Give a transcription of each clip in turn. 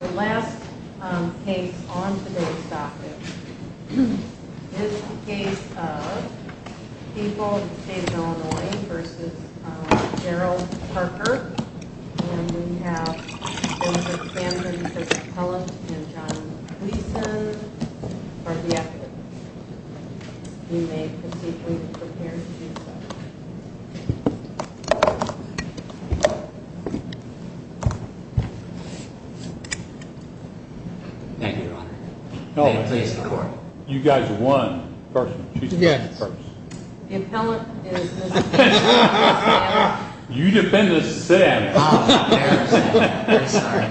The last case on today's docket is the case of people in the state of Illinois v. Gerald Harker. And we have Benjamin Sampson v. Kellett and John Gleason for the evidence. You may proceed when you're prepared to. Thank you, Your Honor. You guys won. The appellant is Mr. Sampson. You defend the sentence. I'm sorry.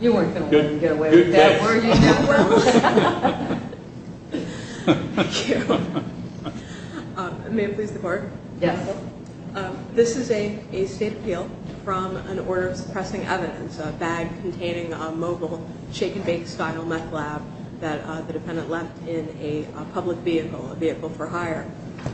You weren't going to let him get away with that, were you? May it please the Court? Yes. This is a state appeal from an order of suppressing evidence, a bag containing a mobile shake-and-bake style meth lab that the defendant left in a public vehicle, a vehicle for hire.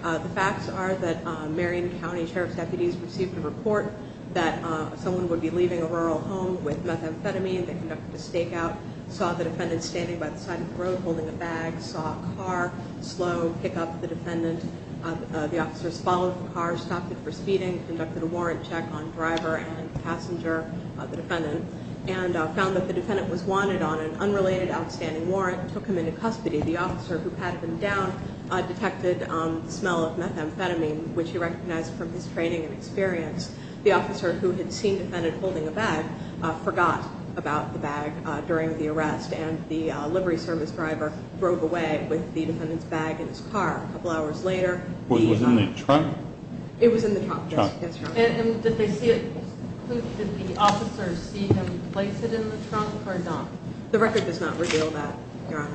The facts are that Marion County Sheriff's deputies received a report that someone would be leaving a rural home with methamphetamine. They conducted a stakeout, saw the defendant standing by the side of the road holding a bag, saw a car slow pick up the defendant. The officers followed the car, stopped it for speeding, conducted a warrant check on driver and passenger, the defendant, and found that the defendant was wanted on an unrelated outstanding warrant and took him into custody. The officer who patted him down detected the smell of methamphetamine, which he recognized from his training and experience. The officer who had seen the defendant holding a bag forgot about the bag during the arrest, and the livery service driver drove away with the defendant's bag in his car. A couple hours later, the- Was it in the trunk? It was in the trunk, yes. And did the officers see him place it in the trunk or not? The record does not reveal that, Your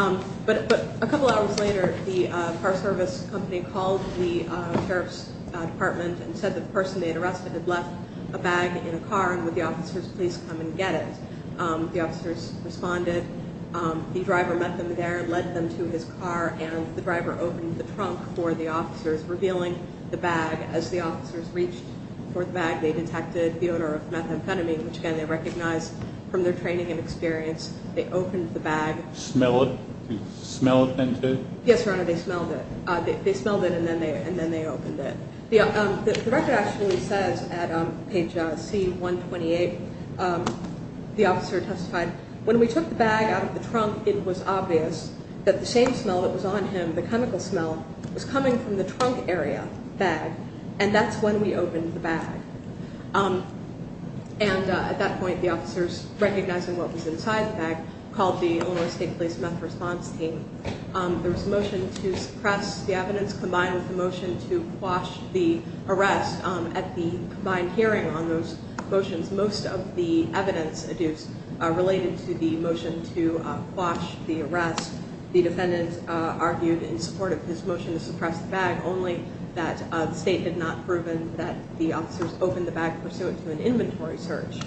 Honor. But a couple hours later, the car service company called the Sheriff's Department and said that the person they had arrested had left a bag in a car, and would the officers please come and get it. The officers responded. The driver met them there, led them to his car, and the driver opened the trunk for the officers, revealing the bag. As the officers reached for the bag, they detected the odor of methamphetamine, which, again, they recognized from their training and experience. They opened the bag. Smelled it? Smelled and tinted? Yes, Your Honor, they smelled it. They smelled it and then they opened it. The record actually says at page C-128, the officer testified, when we took the bag out of the trunk, it was obvious that the same smell that was on him, the chemical smell, was coming from the trunk area bag, and that's when we opened the bag. And at that point, the officers, recognizing what was inside the bag, called the Illinois State Police Meth Response Team. There was a motion to suppress the evidence combined with a motion to quash the arrest. At the combined hearing on those motions, most of the evidence related to the motion to quash the arrest. The defendant argued in support of his motion to suppress the bag, only that the state had not proven that the officers opened the bag pursuant to an inventory search.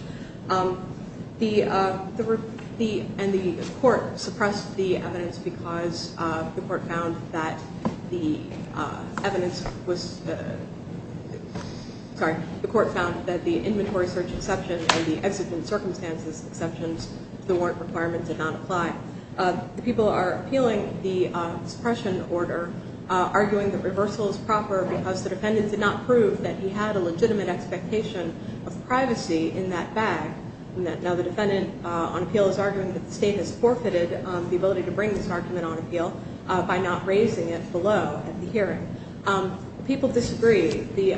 The court suppressed the evidence because the court found that the inventory search exception and the exigent circumstances exceptions to the warrant requirement did not apply. The people are appealing the suppression order, arguing that reversal is proper because the defendant did not prove that he had a legitimate expectation of privacy in that bag. Now, the defendant on appeal is arguing that the state has forfeited the ability to bring this argument on appeal by not raising it below at the hearing. People disagree. The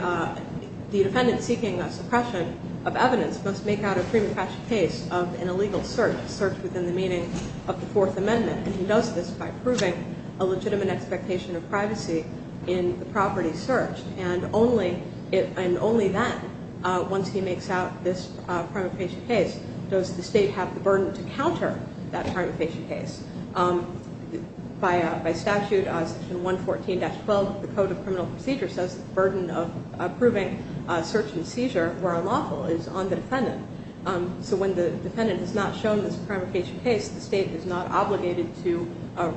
defendant seeking a suppression of evidence must make out a prima facie case of an illegal search, a search within the meaning of the Fourth Amendment, and he does this by proving a legitimate expectation of privacy in the property search. And only then, once he makes out this prima facie case, does the state have the burden to counter that prima facie case. By statute, section 114-12 of the Code of Criminal Procedure says the burden of approving a search and seizure where unlawful is on the defendant. So when the defendant has not shown this prima facie case, the state is not obligated to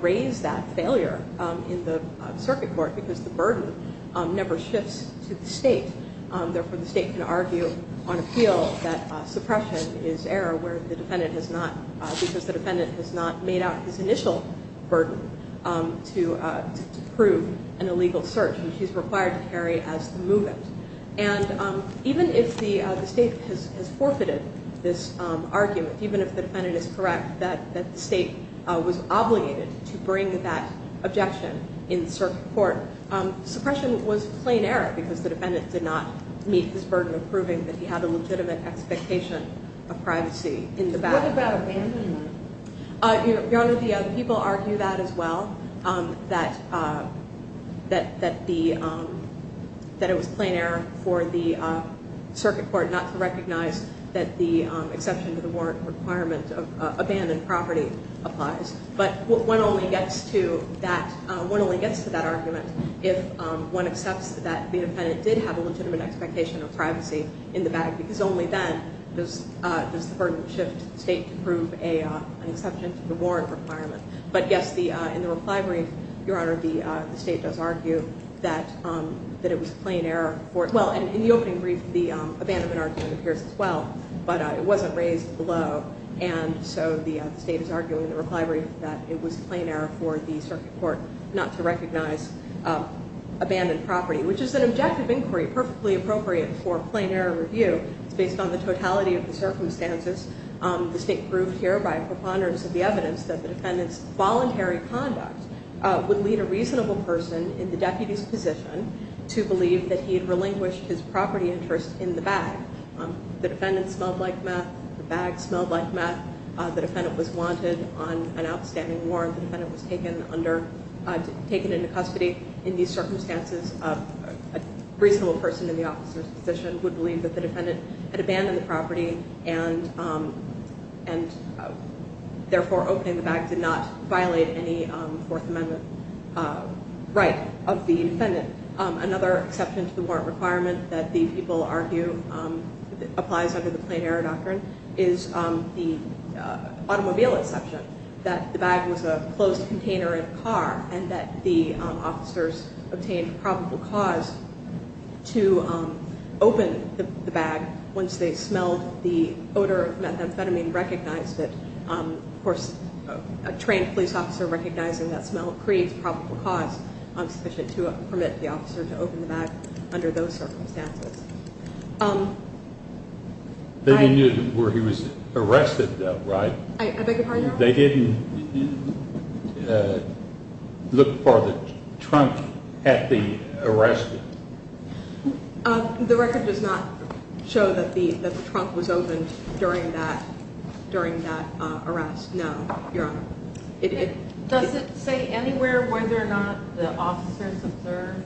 raise that failure in the circuit court because the burden never shifts to the state. Therefore, the state can argue on appeal that suppression is error because the defendant has not made out his initial burden to prove an illegal search, which he's required to carry as the movement. And even if the state has forfeited this argument, even if the defendant is correct that the state was obligated to bring that objection in circuit court, suppression was plain error because the defendant did not meet his burden of proving that he had a legitimate expectation of privacy in the back. What about abandonment? Your Honor, the people argue that as well, that it was plain error for the circuit court not to recognize that the exception to the warrant requirement of abandoned property applies. But one only gets to that argument if one accepts that the defendant did have a legitimate expectation of privacy in the back because only then does the burden shift to the state to prove an exception to the warrant requirement. But yes, in the reply brief, Your Honor, the state does argue that it was plain error for it. Well, in the opening brief, the abandonment argument appears as well, but it wasn't raised below. And so the state is arguing in the reply brief that it was plain error for the circuit court not to recognize abandoned property, which is an objective inquiry perfectly appropriate for a plain error review. It's based on the totality of the circumstances. The state proved here by preponderance of the evidence that the defendant's voluntary conduct would lead a reasonable person in the deputy's position to believe that he had relinquished his property interest in the bag. The defendant smelled like meth. The bag smelled like meth. The defendant was wanted on an outstanding warrant. The defendant was taken into custody. In these circumstances, a reasonable person in the officer's position would believe that the defendant had abandoned the property and therefore opening the bag did not violate any Fourth Amendment right of the defendant. Another exception to the warrant requirement that the people argue applies under the plain error doctrine is the automobile exception, that the bag was a closed container in the car and that the officers obtained probable cause to open the bag once they smelled the odor of methamphetamine and recognized it. Of course, a trained police officer recognizing that smell creates probable cause sufficient to permit the officer to open the bag under those circumstances. They didn't know where he was arrested, though, right? I beg your pardon? They didn't look for the trunk at the arrest? The record does not show that the trunk was opened during that arrest, no, Your Honor. Does it say anywhere whether or not the officers observed?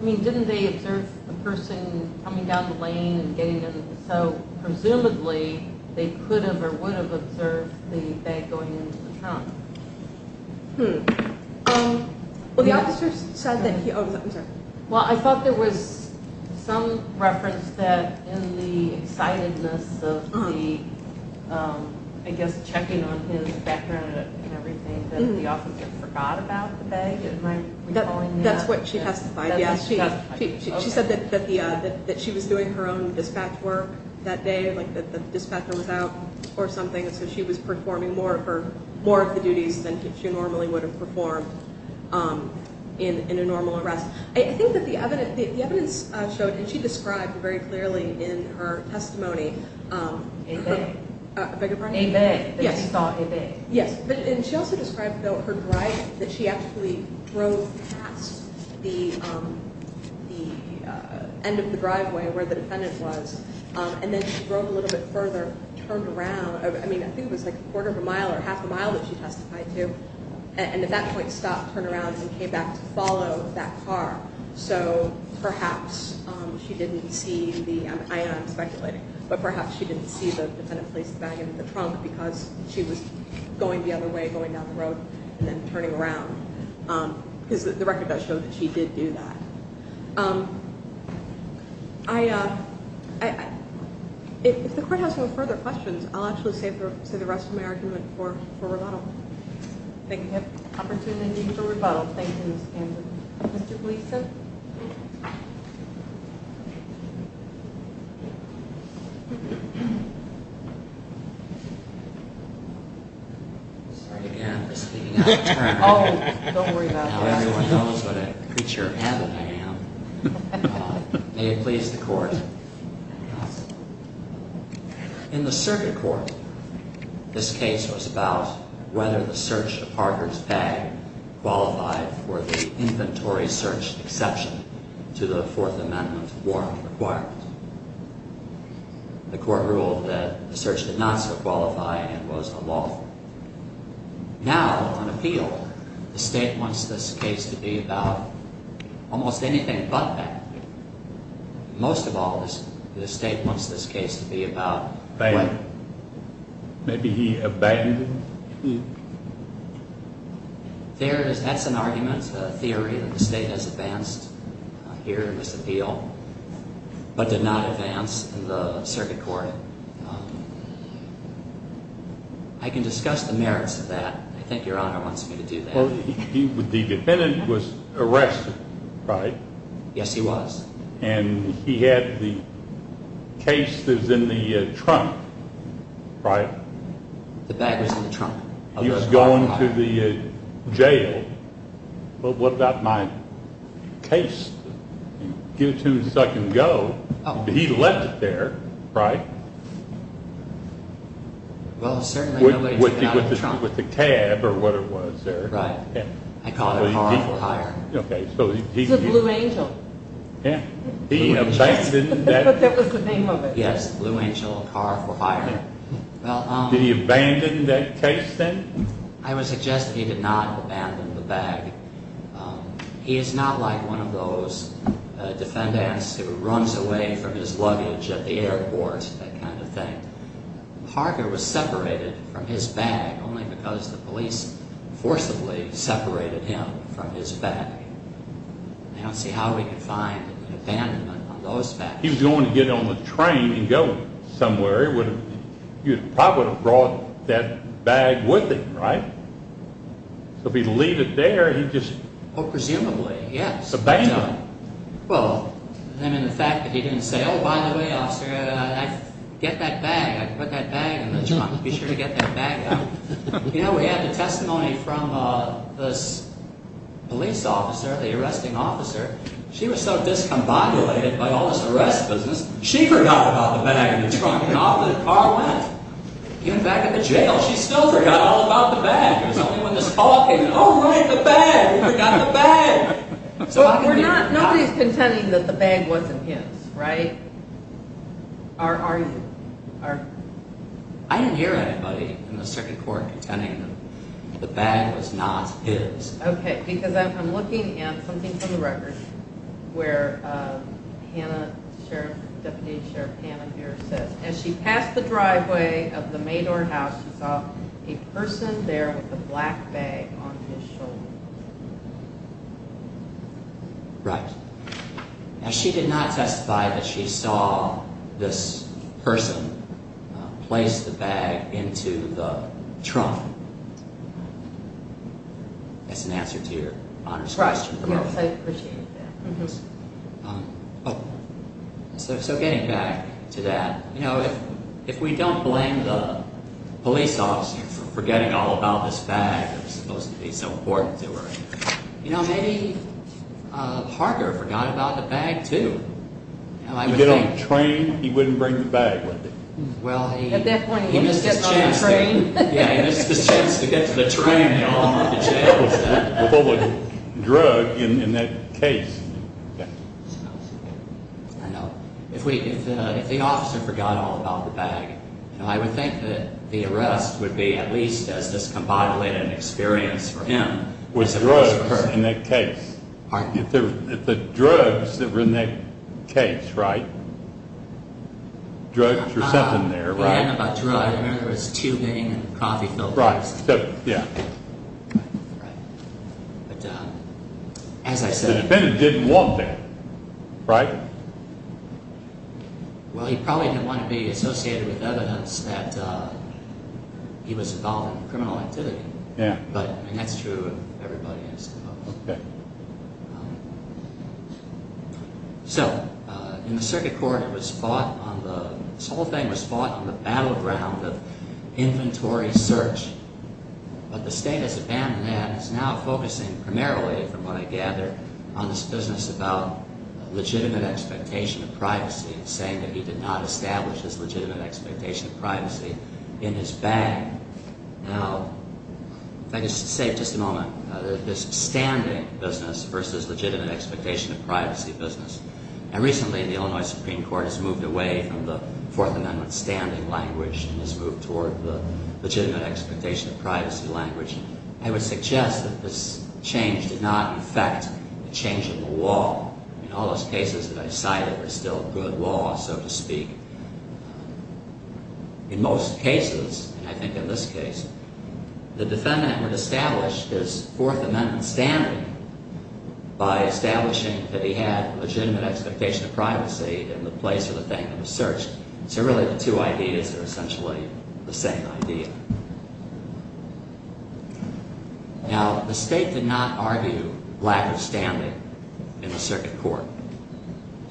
I mean, didn't they observe a person coming down the lane and getting in the cell? Presumably, they could have or would have observed the bag going into the trunk. Well, the officers said that he opened it. That the officer forgot about the bag? That's what she testified, yes. She said that she was doing her own dispatch work that day, like the dispatcher was out or something, so she was performing more of the duties than she normally would have performed in a normal arrest. I think that the evidence showed, and she described very clearly in her testimony A bag. I beg your pardon? A bag. Yes. That she thought a bag. Yes, and she also described, though, her drive, that she actually drove past the end of the driveway where the defendant was, and then she drove a little bit further, turned around, I mean, I think it was like a quarter of a mile or half a mile that she testified to, and at that point stopped, turned around, and came back to follow that car. So perhaps she didn't see the, I know I'm speculating, but perhaps she didn't see the defendant place the bag in the trunk because she was going the other way, going down the road, and then turning around. Because the record does show that she did do that. If the court has no further questions, I'll actually save the rest of my argument for rebuttal. Thank you. We have opportunity for rebuttal, thank you, Ms. Ganser. Mr. Gleeson? Sorry again for speaking out of turn. Oh, don't worry about it. Now everyone knows what a creature of habit I am. May it please the court. In the circuit court, this case was about whether the search of Parker's bag qualified for the inventory search exception to the Fourth Amendment warrant requirement. The court ruled that the search did not so qualify and was unlawful. Now, on appeal, the state wants this case to be about almost anything but that. Most of all, the state wants this case to be about what? Bagging. Maybe he abandoned it. That's an argument, a theory that the state has advanced here in this appeal, but did not advance in the circuit court. I can discuss the merits of that. I think Your Honor wants me to do that. The defendant was arrested, right? Yes, he was. And he had the case that was in the trunk, right? The bag was in the trunk. He was going to the jail. Well, what about my case? Give it to me so I can go. He left it there, right? Well, certainly no way to get out of the trunk. With the cab or whatever it was there. Right. I call it a harmful hire. It's a Blue Angel. He abandoned that. But that was the name of it. Yes, Blue Angel, a car for hire. Did he abandon that case then? I would suggest that he did not abandon the bag. He is not like one of those defendants who runs away from his luggage at the airport, that kind of thing. Parker was separated from his bag only because the police forcibly separated him from his bag. I don't see how he could find an abandonment on those bags. He was going to get on the train and go somewhere. He probably would have brought that bag with him, right? So if he'd leave it there, he just... Oh, presumably, yes. Abandoned. Well, I mean, the fact that he didn't say, Oh, by the way, officer, get that bag. Put that bag in the trunk. Be sure to get that bag out. You know, we have the testimony from this police officer, the arresting officer. She was so discombobulated by all this arrest business, she forgot about the bag in the trunk and off the car went. Even back in the jail, she still forgot all about the bag. It was only when this call came in, Oh, right, the bag. We forgot the bag. Nobody's contending that the bag wasn't his, right? Or are you? I didn't hear anybody in the second court contending that the bag was not his. Okay, because I'm looking at something from the record where Deputy Sheriff Hannah Muir says, As she passed the driveway of the Mador house, she saw a person there with a black bag on his shoulder. Right. And she did not testify that she saw this person place the bag into the trunk. That's an answer to your honors question. Yes, I appreciate that. So getting back to that, if we don't blame the police officer for forgetting all about this bag that was supposed to be so important to her, maybe Parker forgot about the bag, too. You get on the train, he wouldn't bring the bag with him. At that point, he missed his chance to get on the train. Yeah, he missed his chance to get to the train, y'all. With all the drug in that case. I know. If the officer forgot all about the bag, I would think that the arrest would be at least as discombobulated an experience for him as it was for her. With drugs in that case. The drugs that were in that case, right? Drugs were sent in there, right? Yeah, I know about drugs. I remember there was tubing and coffee filters. Right, yeah. Right. But as I said... The defendant didn't want that, right? Well, he probably didn't want to be associated with evidence that he was involved in criminal activity. Yeah. And that's true of everybody, I suppose. Okay. So, in the circuit court, it was fought on the... But the state has abandoned that. It's now focusing primarily, from what I gather, on this business about legitimate expectation of privacy and saying that he did not establish this legitimate expectation of privacy in his bag. Now, if I could say just a moment, this standing business versus legitimate expectation of privacy business. And recently, the Illinois Supreme Court has moved away from the Fourth Amendment standing language and has moved toward the legitimate expectation of privacy language. I would suggest that this change did not affect the change in the law. I mean, all those cases that I cited are still good law, so to speak. In most cases, and I think in this case, the defendant would establish his Fourth Amendment standing by establishing that he had legitimate expectation of privacy in the place of the bank that was searched. So, really, the two ideas are essentially the same idea. Now, the state did not argue lack of standing in the circuit court.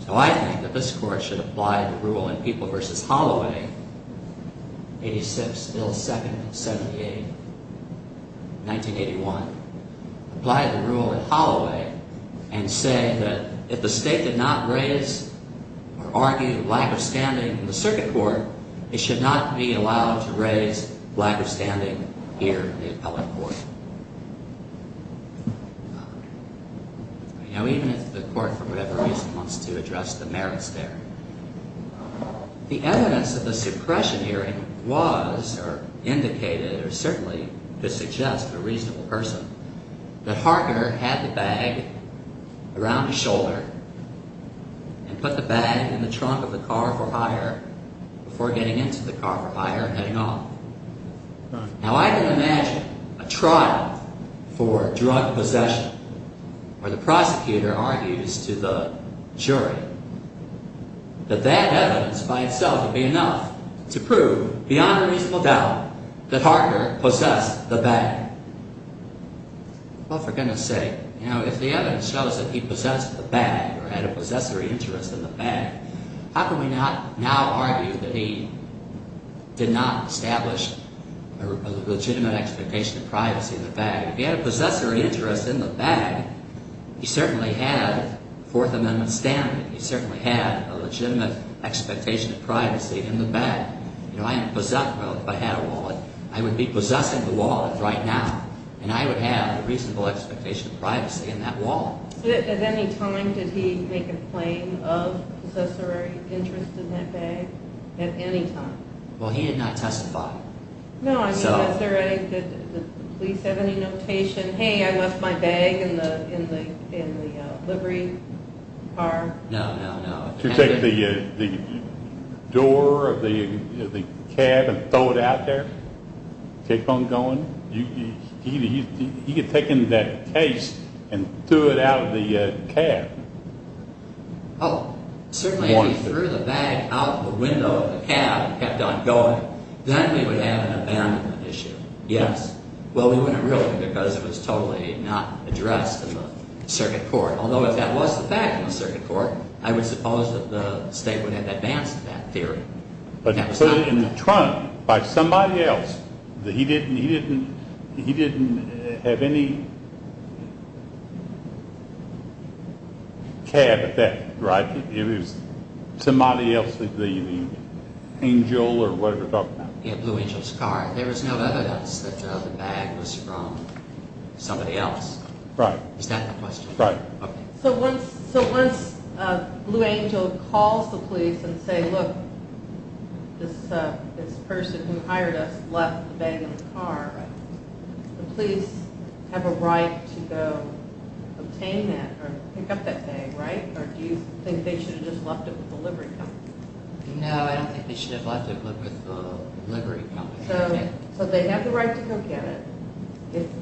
So, I think that this court should apply the rule in People v. Holloway, 86-07-78, 1981. Apply the rule in Holloway and say that if the state did not raise or argue lack of standing in the circuit court, it should not be allowed to raise lack of standing here in the appellate court. Now, even if the court, for whatever reason, wants to address the merits there, the evidence of the suppression hearing was, or indicated, or certainly could suggest to a reasonable person, that Harker had the bag around his shoulder and put the bag in the trunk of the car for hire before getting into the car for hire and heading off. Now, I can imagine a trial for drug possession where the prosecutor argues to the jury that that evidence by itself would be enough to prove beyond a reasonable doubt that Harker possessed the bag. Well, for goodness sake. Now, if the evidence shows that he possessed the bag or had a possessory interest in the bag, how can we not now argue that he did not establish a legitimate expectation of privacy in the bag? If he had a possessory interest in the bag, he certainly had Fourth Amendment standing. He certainly had a legitimate expectation of privacy in the bag. You know, I am a possessor. Well, if I had a wallet, I would be possessing the wallet right now. And I would have a reasonable expectation of privacy in that wallet. At any time did he make a claim of possessory interest in that bag? At any time? Well, he did not testify. No, I mean, was there any, did the police have any notation, hey, I left my bag in the livery car? No, no, no. If you take the door of the cab and throw it out there, keep on going, he had taken that case and threw it out of the cab. Oh, certainly if he threw the bag out the window of the cab and kept on going, then we would have an abandonment issue. Yes. Well, we wouldn't really because it was totally not addressed in the circuit court. Although if that was the fact in the circuit court, I would suppose that the state would have advanced that theory. But put it in the trunk by somebody else, he didn't have any cab at that, right? It was somebody else, the angel or whatever they're talking about. Yeah, Blue Angel's car. There was no evidence that the bag was from somebody else. Right. Is that the question? Right. So once Blue Angel calls the police and say, look, this person who hired us left the bag in the car, the police have a right to go obtain that or pick up that bag, right? Or do you think they should have just left it with the livery company? No, I don't think they should have left it with the livery company. So they have the right to go get it.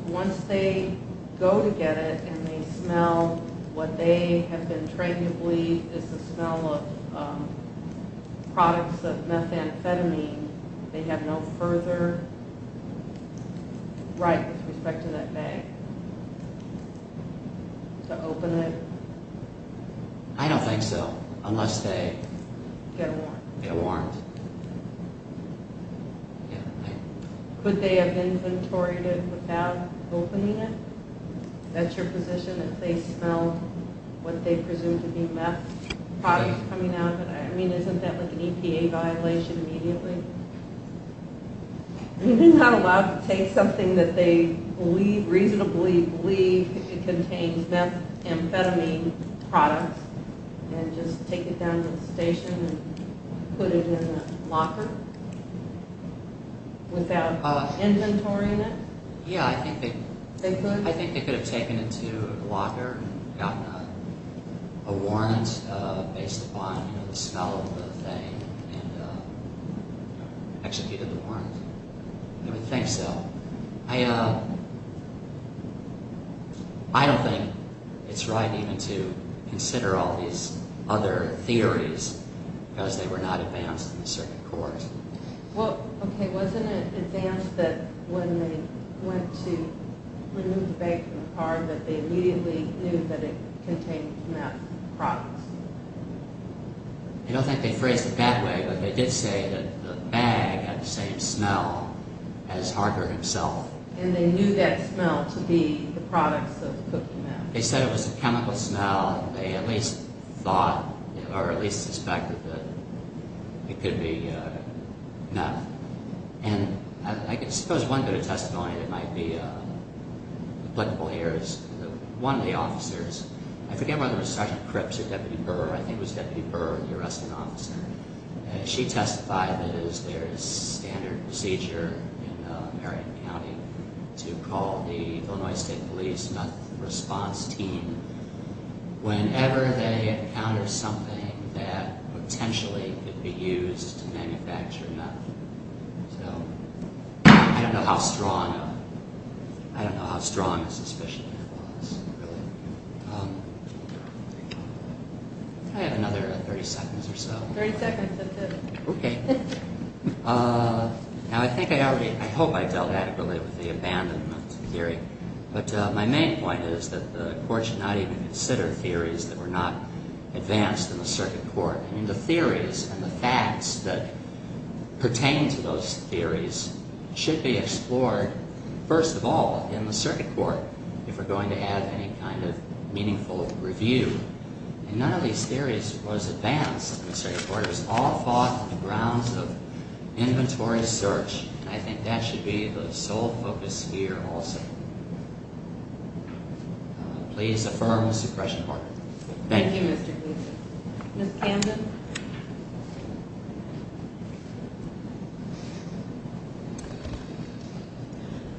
Once they go to get it and they smell what they have been trained to believe is the smell of products of methamphetamine, they have no further right with respect to that bag. To open it? I don't think so, unless they get a warrant. Get a warrant. Could they have inventoried it without opening it? Is that your position? If they smell what they presume to be meth products coming out of it? I mean, isn't that like an EPA violation immediately? They're not allowed to take something that they reasonably believe contains methamphetamine products and just take it down to the station and put it in a locker without inventorying it? Yeah, I think they could have taken it to a locker and gotten a warrant based upon the smell of the thing and executed the warrant. I would think so. I don't think it's right even to consider all these other theories because they were not advanced in the circuit court. Okay, wasn't it advanced that when they went to remove the bag from the car that they immediately knew that it contained meth products? I don't think they phrased it that way, but they did say that the bag had the same smell as Harker himself. And they knew that smell to be the products of the cooking meth. They said it was a chemical smell, and they at least suspected that it could be meth. And I suppose one bit of testimony that might be applicable here is that one of the officers, I forget whether it was Sergeant Cripps or Deputy Burr, I think it was Deputy Burr, the arresting officer, she testified that it is their standard procedure in Marion County to call the Illinois State Police meth response team whenever they encounter something that potentially could be used to manufacture meth. So I don't know how strong a suspicion that was. I have another 30 seconds or so. 30 seconds, that's it. Okay. Now, I think I already, I hope I dealt adequately with the abandonment theory, but my main point is that the Court should not even consider theories that were not advanced in the circuit court. I mean, the theories and the facts that pertain to those theories should be explored, first of all, in the circuit court if we're going to add any kind of meaningful review. And none of these theories was advanced in the circuit court. It was all fought on the grounds of inventory search, and I think that should be the sole focus here also. Please affirm the suppression order. Thank you, Mr. Gleason. Ms. Camden?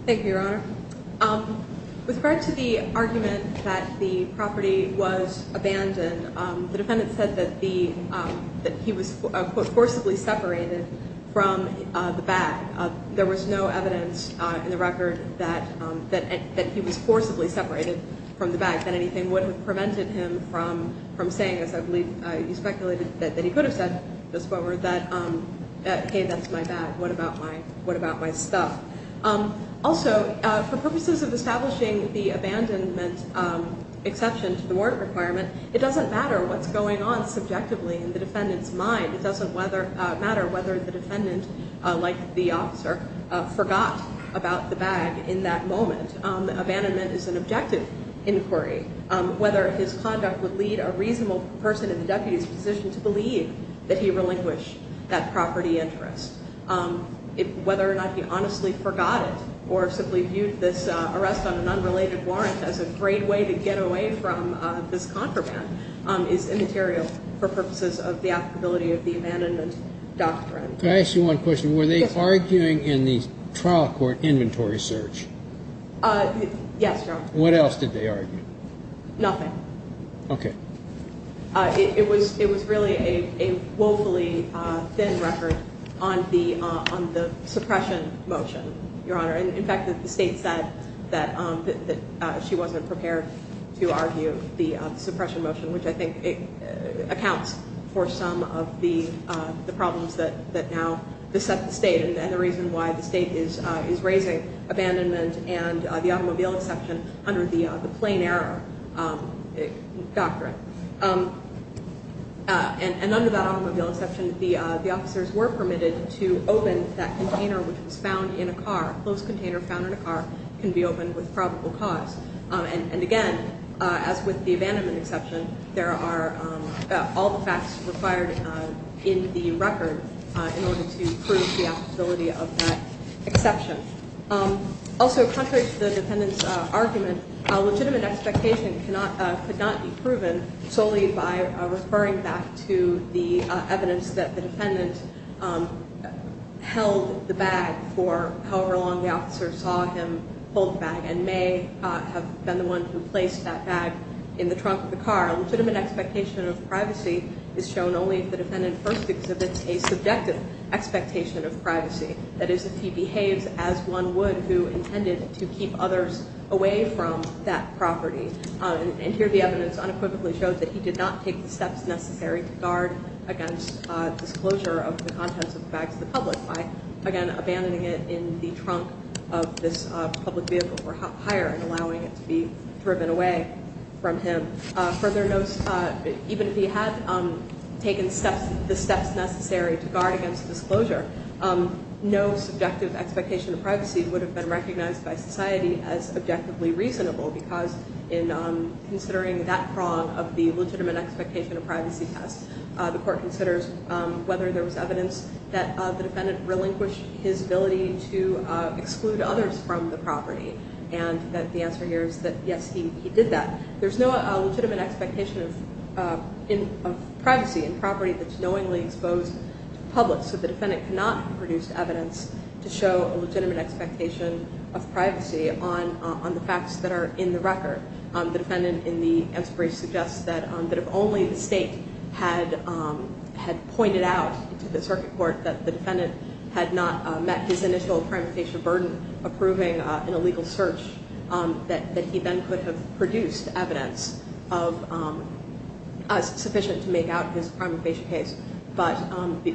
Thank you, Your Honor. With regard to the argument that the property was abandoned, the defendant said that he was, quote, forcibly separated from the bag. There was no evidence in the record that he was forcibly separated from the bag, that anything would have prevented him from saying this. He could have said, hey, that's my bag. What about my stuff? Also, for purposes of establishing the abandonment exception to the warrant requirement, it doesn't matter what's going on subjectively in the defendant's mind. It doesn't matter whether the defendant, like the officer, forgot about the bag in that moment. Abandonment is an objective inquiry. Whether his conduct would lead a reasonable person in the deputy's position to believe that he relinquished that property interest, whether or not he honestly forgot it or simply viewed this arrest on an unrelated warrant as a great way to get away from this contraband is immaterial for purposes of the applicability of the abandonment doctrine. Can I ask you one question? Were they arguing in the trial court inventory search? Yes, Your Honor. What else did they argue? Nothing. Okay. It was really a woefully thin record on the suppression motion, Your Honor. In fact, the state said that she wasn't prepared to argue the suppression motion, which I think accounts for some of the problems that now beset the state and the reason why the state is raising abandonment and the automobile exception under the plain error doctrine. And under that automobile exception, the officers were permitted to open that container which was found in a car, a closed container found in a car, can be opened with probable cause. And, again, as with the abandonment exception, there are all the facts required in the record in order to prove the applicability of that exception. Also, contrary to the defendant's argument, a legitimate expectation could not be proven solely by referring back to the evidence that the defendant held the bag for however long the officer saw him hold the bag and may have been the one who placed that bag in the trunk of the car. A legitimate expectation of privacy is shown only if the defendant first exhibits a subjective expectation of privacy. That is, if he behaves as one would who intended to keep others away from that property. And here the evidence unequivocally shows that he did not take the steps necessary to guard against disclosure of the contents of the bags to the public by, again, abandoning it in the trunk of this public vehicle or higher and allowing it to be driven away from him. Further notes, even if he had taken the steps necessary to guard against disclosure, no subjective expectation of privacy would have been recognized by society as objectively reasonable because in considering that prong of the legitimate expectation of privacy test, the court considers whether there was evidence that the defendant relinquished his ability to exclude others from the property. And the answer here is that, yes, he did that. There's no legitimate expectation of privacy in property that's knowingly exposed to the public. So the defendant cannot have produced evidence to show a legitimate expectation of privacy on the facts that are in the record. The defendant in the answer brief suggests that if only the state had pointed out to the circuit court that the defendant had not met his initial primary case of burden approving in a legal search, that he then could have produced evidence sufficient to make out his primary patient case. But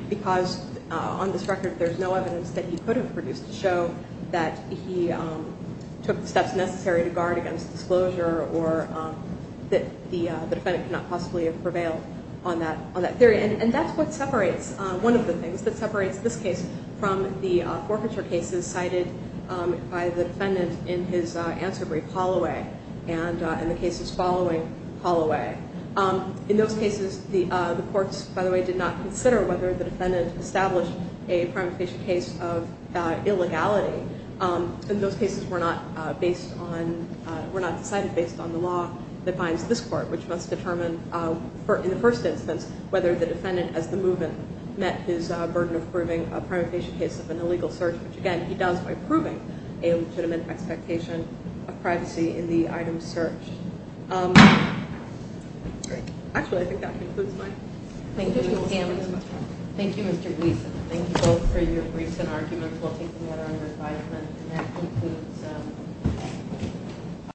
because on this record, there's no evidence that he could have produced to show that he took the steps necessary to guard against disclosure or that the defendant could not possibly have prevailed on that theory. And that's what separates one of the things that separates this case from the forfeiture cases cited by the defendant in his answer brief, Holloway, and the cases following Holloway. In those cases, the courts, by the way, did not consider whether the defendant established a primary patient case of illegality. And those cases were not decided based on the law that binds this court, which must determine, in the first instance, whether the defendant as the movement met his burden approving a primary patient case of an illegal search, which, again, he does by proving a legitimate expectation of privacy in the item of the search. Great. Actually, I think that concludes my presentation. Thank you, Mr. Gleason. Thank you both for your briefs and arguments while taking that on your advisement. And that concludes.